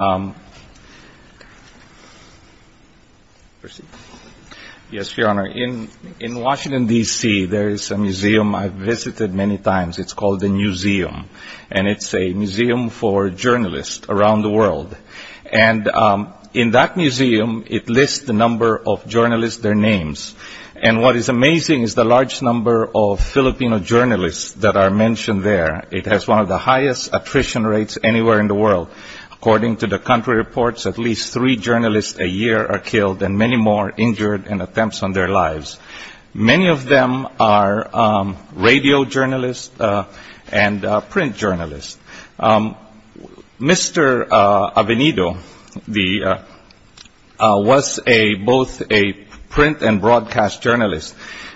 In Washington, D.C., there is a museum I've visited many times. It's called the Newseum, and it's a museum for journalists around the world. And in that museum, it lists the number of journalists, their names. And what is amazing is the large number of Filipino journalists that are mentioned there. It has one of the highest attrition rates anywhere in the world, according to the country reports, at least three journalists a year are killed and many more injured in attempts on their lives. Many of them are radio journalists and print journalists. Mr. Avenido was both a print and broadcast journalist.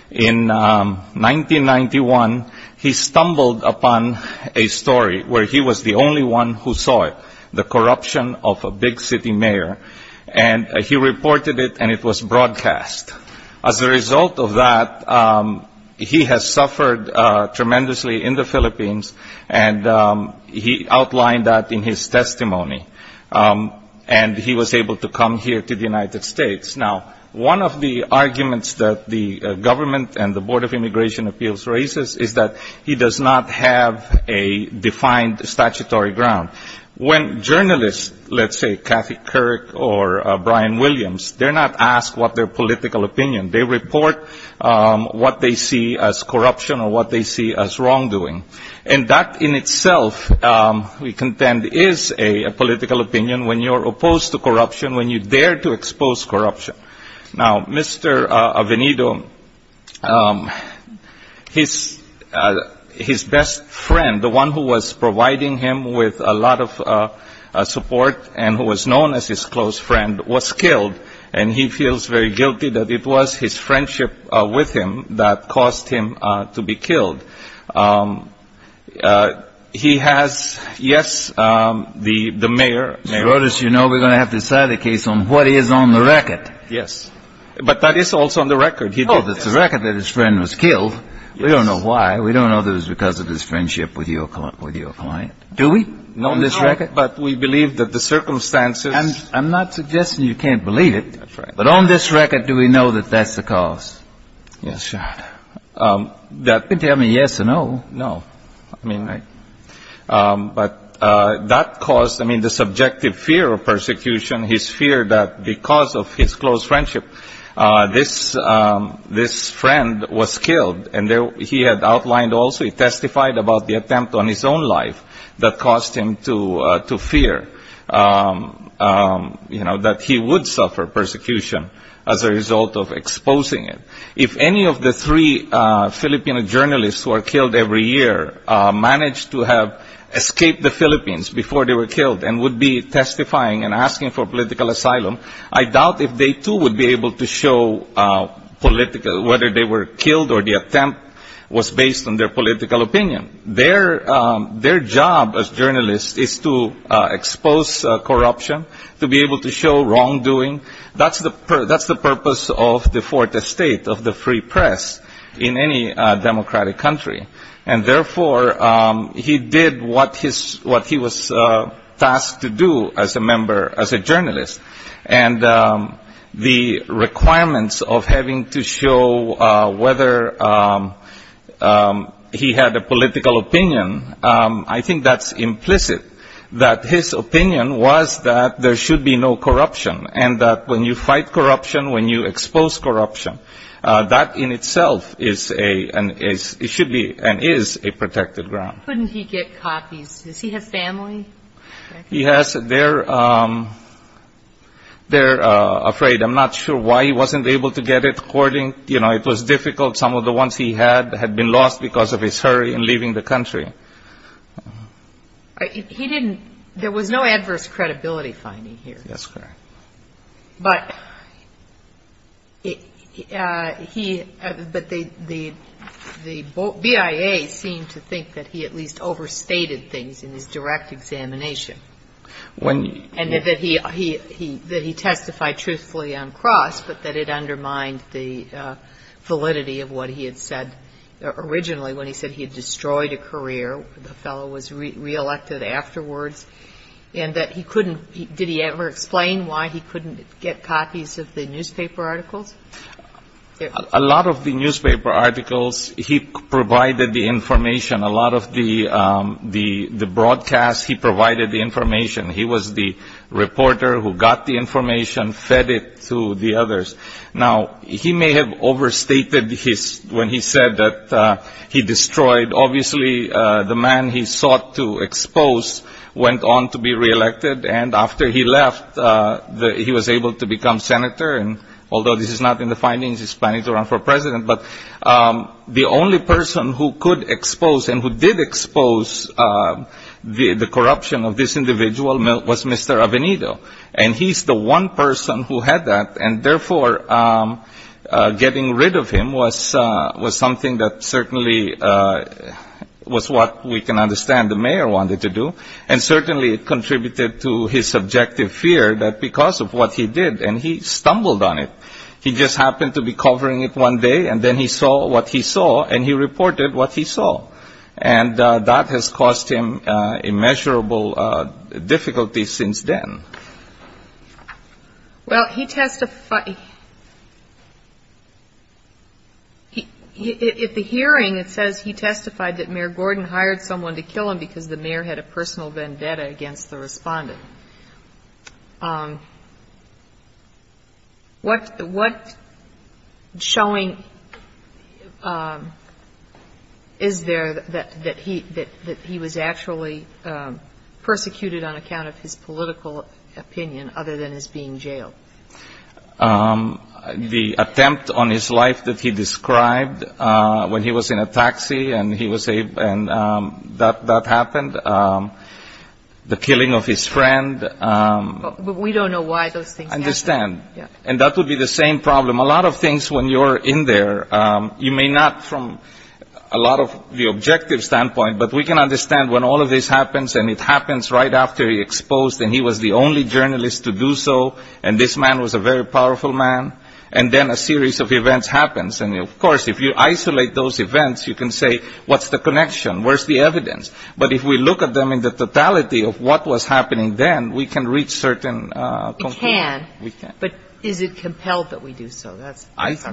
In 1991, he stumbled upon a story where he was the only one who saw it, the corruption of a big city mayor. And he reported it and it was broadcast. As a result of that, he has suffered tremendously in the Philippines, and he outlined that in his testimony. And he was able to come here to the United States. Now, one of the arguments that the government and the Board of Immigration Appeals raises is that he does not have a defined statutory ground. When journalists, let's say Kathy Kirk or Brian Williams, they're not asked what their political opinion. They report what they see as corruption or what they see as wrongdoing. And that in itself, we contend, is a political opinion when you're opposed to corruption, when you dare to expose corruption. Now, Mr. Avenido, his best friend, the one who was providing him with a lot of support and who was known as his close friend, was killed. And he feels very guilty that it was his friendship with him that caused him to be killed. He has, yes, the mayor. Mr. Rodas, you know we're going to have to decide the case on what is on the record. Yes. But that is also on the record. He did that. Oh, it's the record that his friend was killed. We don't know why. We don't know if it was because of his friendship with your client. Do we, on this record? No, but we believe that the circumstances – And I'm not suggesting you can't believe it. That's right. But on this record, do we know that that's the cause? Yes, Your Honor. That – You can tell me yes and no. No. I mean, but that caused – I mean, the subjective fear of persecution, his fear that because of his close friendship, this friend was killed. And he had outlined also, he testified about the attempt on his own life that caused him to fear, you know, that he would suffer persecution as a result of exposing it. If any of the three Filipino journalists who are killed every year managed to have escaped the Philippines before they were killed and would be testifying and asking for political asylum, I doubt if they too would be able to show political – whether they were killed or the attempt was based on their political opinion. Their job as journalists is to expose corruption, to be able to show wrongdoing. That's the purpose of the Fourth Estate of the free press in any democratic country. And therefore, he did what his – what he was tasked to do as a member, as a journalist. And the requirements of having to show whether he had a political opinion, I think that's implicit, that his opinion was that there should be no corruption and that when you fight corruption, when you expose corruption, that in itself is a – it should be and is a protected ground. Couldn't he get copies? Does he have family? He has – they're afraid. I'm not sure why he wasn't able to get it. According – you know, it was difficult. Some of the ones he had had been lost because of his hurry in leaving the country. He didn't – there was no adverse credibility finding here. That's correct. But he – but the BIA seemed to think that he at least overstated things in his direct examination. When – And that he testified truthfully on cross, but that it undermined the validity of what he had said originally when he said he had destroyed a career, the fellow was reelected afterwards, and that he couldn't – did he ever explain why he couldn't get copies of the newspaper articles? A lot of the newspaper articles, he provided the information. A lot of the broadcast, he provided the information. He was the reporter who got the information, fed it to the others. Now, he may have overstated his – when he said that he destroyed – obviously, the man he sought to expose went on to be reelected, and after he left, he was able to become senator. And although this is not in the findings, he's planning to run for president, but the only person who could expose and who did expose the corruption of this individual was Mr. Avenito. And he's the one person who had that, and therefore, getting rid of him was something that certainly was what we can understand the mayor wanted to do. And certainly, it contributed to his subjective fear that because of what he did – and he stumbled on it. He just happened to be covering it one day, and then he saw what he saw. And that has caused him immeasurable difficulty since then. Well, he testified – at the hearing, it says he testified that Mayor Gordon hired someone to kill him because the mayor had a personal vendetta against the respondent. What – what showing is there that he – that he was actually persecuted on account of his political opinion other than his being jailed? The attempt on his life that he described when he was in a taxi and he was – and that happened. The killing of his friend. But we don't know why those things happened. I understand. And that would be the same problem. A lot of things when you're in there, you may not from a lot of the objective standpoint, but we can understand when all of this happens, and it happens right after he exposed, and he was the only journalist to do so, and this man was a very powerful man, and then a series of events happens. And of course, if you isolate those events, you can say, what's the connection? Where's the evidence? But if we look at them in the totality of what was happening then, we can reach certain conclusion. We can. We can. But is it compelled that we do so? That's our problem. I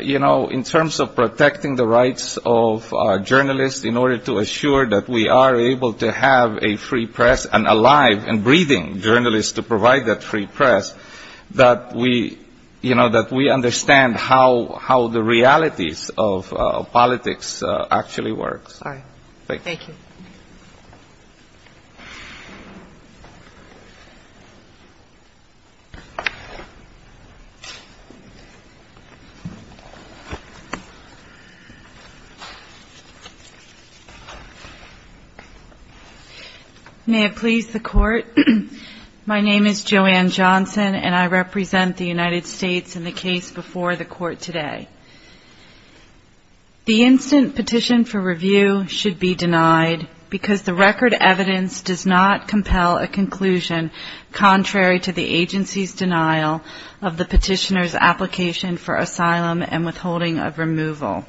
believe, you know, in terms of protecting the rights of journalists in order to assure that we are able to have a free press and alive and breathing journalists to provide that free press, that we – you know, that we understand how – how the realities of politics actually works. Thank you. May it please the Court, my name is Joanne Johnson, and I represent the United States in the case before the Court today. The instant petition for review should be denied because the record evidence does not compel a conclusion contrary to the agency's denial of the petitioner's application for asylum and withholding of removal.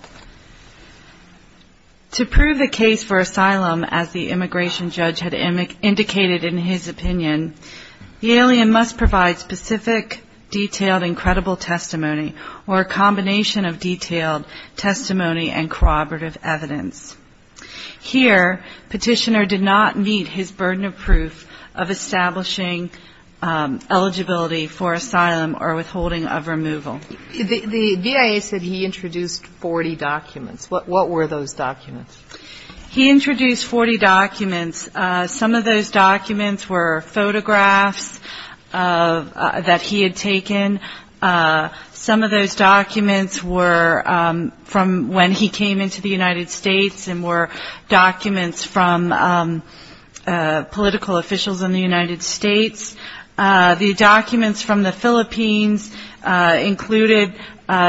To prove a case for asylum, as the immigration judge had indicated in his opinion, the alien must provide specific detailed and credible testimony or a combination of detailed testimony and corroborative evidence. Here, petitioner did not meet his burden of proof of establishing eligibility for asylum or withholding of removal. The DIA said he introduced 40 documents. What were those documents? He introduced 40 documents. Some of those documents were photographs that he had taken. Some of those documents were from when he came into the United States and were documents from political officials in the United States. The documents from the Philippines included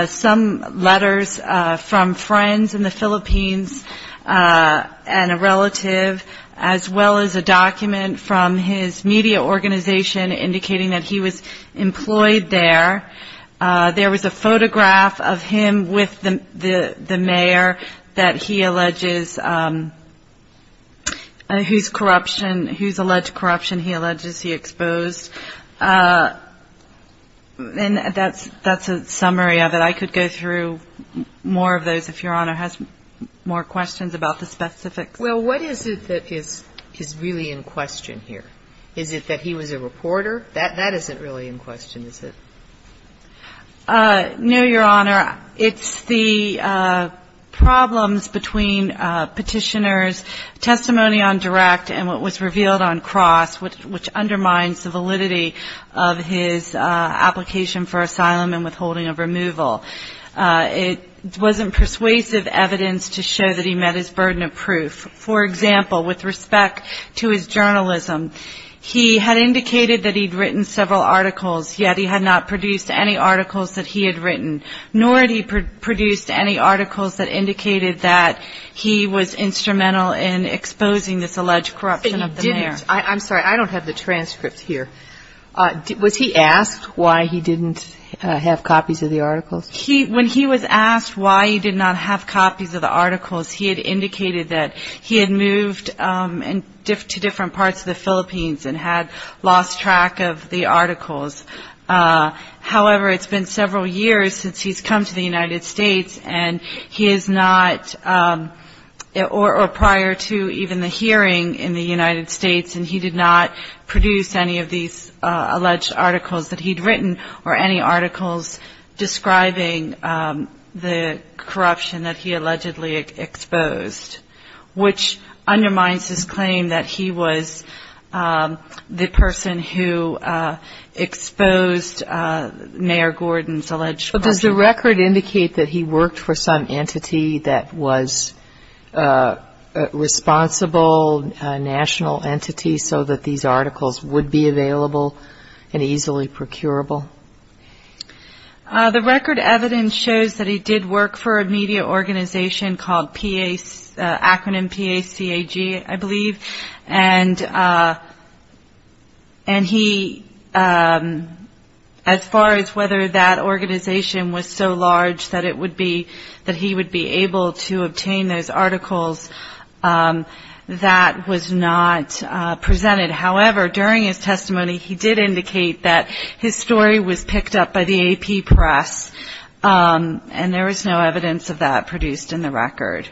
some letters from friends in the Philippines and a relative, as well as a document from his media organization indicating that he was employed there. There was a photograph of him with the mayor that he alleges he exposed, and that's a summary of it. I could go through more of those if Your Honor has more questions about the specifics. Well, what is it that is really in question here? Is it that he was a reporter? That isn't really in question, is it? No, Your Honor. It's the problems between petitioner's testimony on direct and what was revealed on cross, which undermines the validity of his application for asylum and withholding of removal. It wasn't persuasive evidence to show that he met his burden of proof. For example, with respect to his journalism, he had indicated that he'd written several articles that he had written, nor had he produced any articles that indicated that he was instrumental in exposing this alleged corruption of the mayor. I'm sorry. I don't have the transcript here. Was he asked why he didn't have copies of the articles? When he was asked why he did not have copies of the articles, he had indicated that he had moved to different parts of the Philippines and had lost track of the articles. However, it's been several years since he's come to the United States, or prior to even the hearing in the United States, and he did not produce any of these alleged articles that he'd written or any articles describing the corruption that he allegedly exposed, which is the mayor Gordon's alleged corruption. But does the record indicate that he worked for some entity that was a responsible national entity so that these articles would be available and easily procurable? The record evidence shows that he did work for a media organization called P-A-C-A-G, I believe, and he, as far as whether that organization was so large that it would be that he would be able to obtain those articles, that was not presented. However, during his testimony, he did indicate that his story was picked up by the AP press, and there was no evidence of that produced in the record,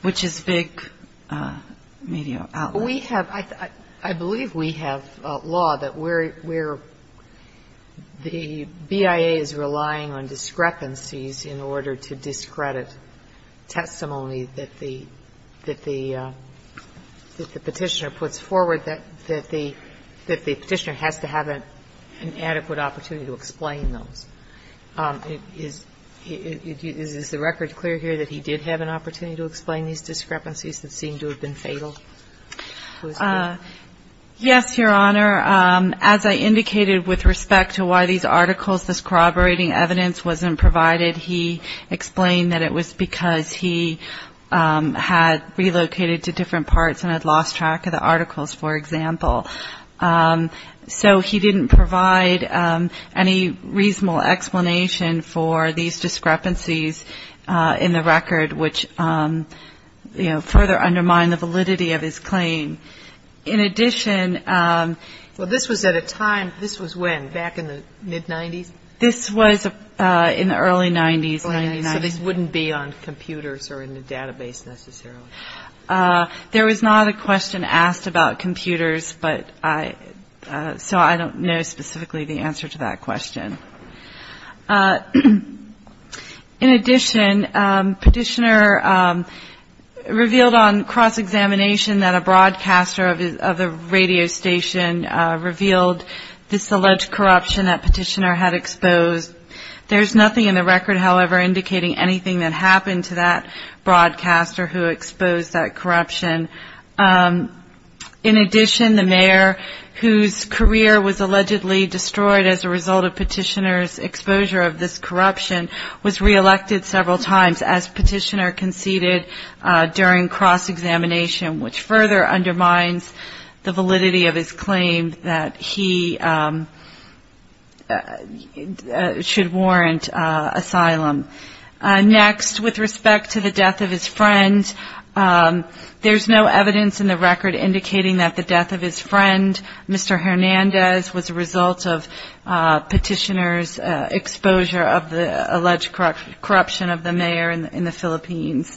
which is big media outlet. We have – I believe we have law that where the BIA is relying on discrepancies in order to discredit testimony that the Petitioner puts forward, that the Petitioner has to have an adequate opportunity to explain those. Is the record clear here that he did have an opportunity to explain these discrepancies that seemed to have been fatal? Yes, Your Honor. As I indicated with respect to why these articles, this corroborating evidence wasn't provided, he explained that it was because he had relocated to different So he didn't provide any reasonable explanation for these discrepancies in the record, which further undermined the validity of his claim. In addition – Well, this was at a time – this was when? Back in the mid-90s? This was in the early 90s. So this wouldn't be on computers or in the database, necessarily? There was not a question asked about computers, but I – so I don't know specifically the answer to that question. In addition, Petitioner revealed on cross-examination that a broadcaster of a radio station revealed this alleged corruption that Petitioner had exposed. There's nothing in the record, however, indicating anything that happened to that broadcaster who exposed that corruption. In addition, the mayor, whose career was allegedly destroyed as a result of Petitioner's exposure of this corruption, was re-elected several times as Petitioner conceded during cross-examination, which further undermines the validity of his claim that he should warrant asylum. Next, with respect to the death of his friend, there's no evidence in the record indicating that the death of his friend, Mr. Hernandez, was a result of Petitioner's exposure of the alleged corruption of the mayor in the Philippines.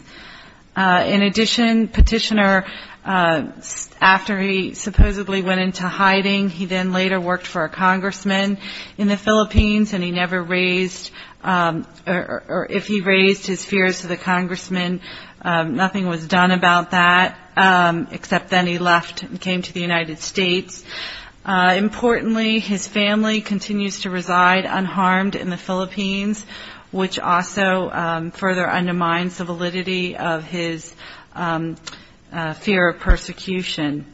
In addition, Petitioner, after he supposedly went into hiding, he then later worked for a congressman in the Philippines, and he never raised – or if he raised his fears to the congressman, nothing was done about that, except then he left and came to the United States. Importantly, his family continues to reside unharmed in the Philippines, which also further undermines the validity of his fear of persecution.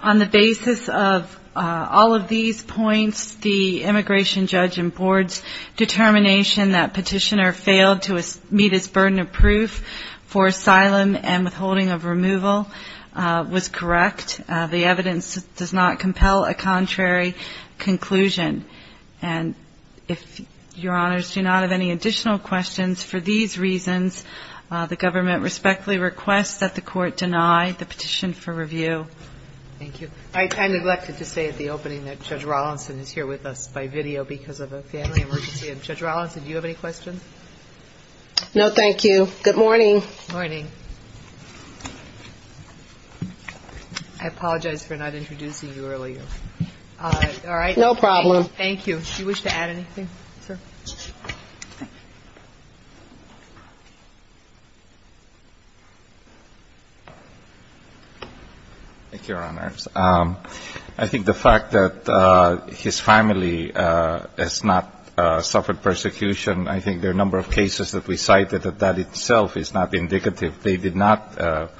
On the basis of all of these points, the immigration judge in board's determination that Petitioner failed to meet his burden of proof for asylum and withholding of removal was correct. The evidence does not compel a contrary conclusion. And if your honors do not have any additional questions for these reasons, the government respectfully requests that the court deny the petition for review. Thank you. I neglected to say at the opening that Judge Rawlinson is here with us by video because of a family emergency. Judge Rawlinson, do you have any questions? No, thank you. Good morning. Good morning. I apologize for not introducing you earlier. No problem. Thank you, your honors. I think the fact that his family has not suffered persecution, I think there are a number of cases that we cited that that itself is not indicative. They did not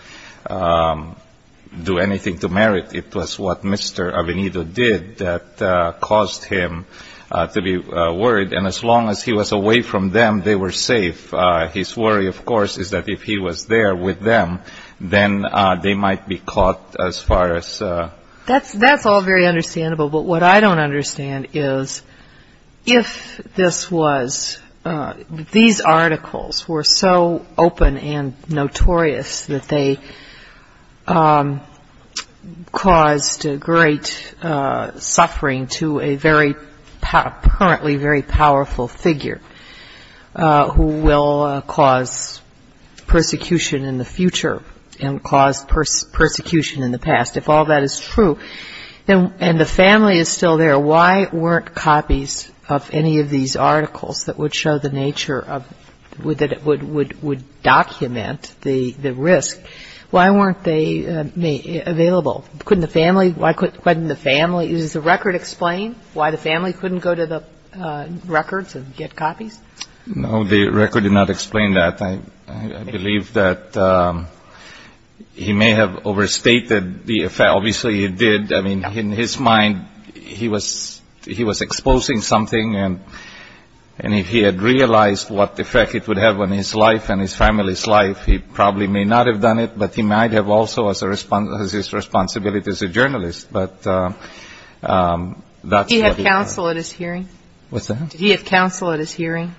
do anything to merit. It was what Mr. Avenido did that caused him to be worried. And as long as he was away from them, they were safe. His worry, of course, is that if he was there with them, then they might be caught as far as ---- That's all very understandable, but what I don't understand is if this was ---- these articles were so open and notorious that they caused great suffering to a very, apparently very powerful figure who will cause persecution in the future and cause persecution in the past, if all that is true, and the family is still there, why weren't copies of any of these articles that would show the nature of ---- would document the risk, why weren't they available? Couldn't the family ---- does the record explain why the family couldn't go to the records and get copies? No, the record did not explain that. I believe that he may have overstated the effect. Obviously, he did. I mean, in his mind, he was exposing something, and if he had realized what effect it would have on his life and his family's life, he probably may not have done it. But he might have also, as his responsibility as a journalist, but that's what we have. Did he have counsel at his hearing? What's that? Did he have counsel at his hearing?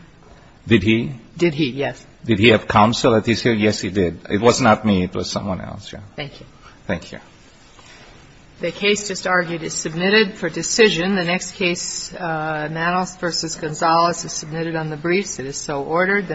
Did he? Did he, yes. Did he have counsel at his hearing? Yes, he did. It was not me. It was someone else, yes. Thank you. Thank you. The case just argued is submitted for decision. The next case, Nanos v. Gonzalez, is submitted on the briefs. It is so ordered.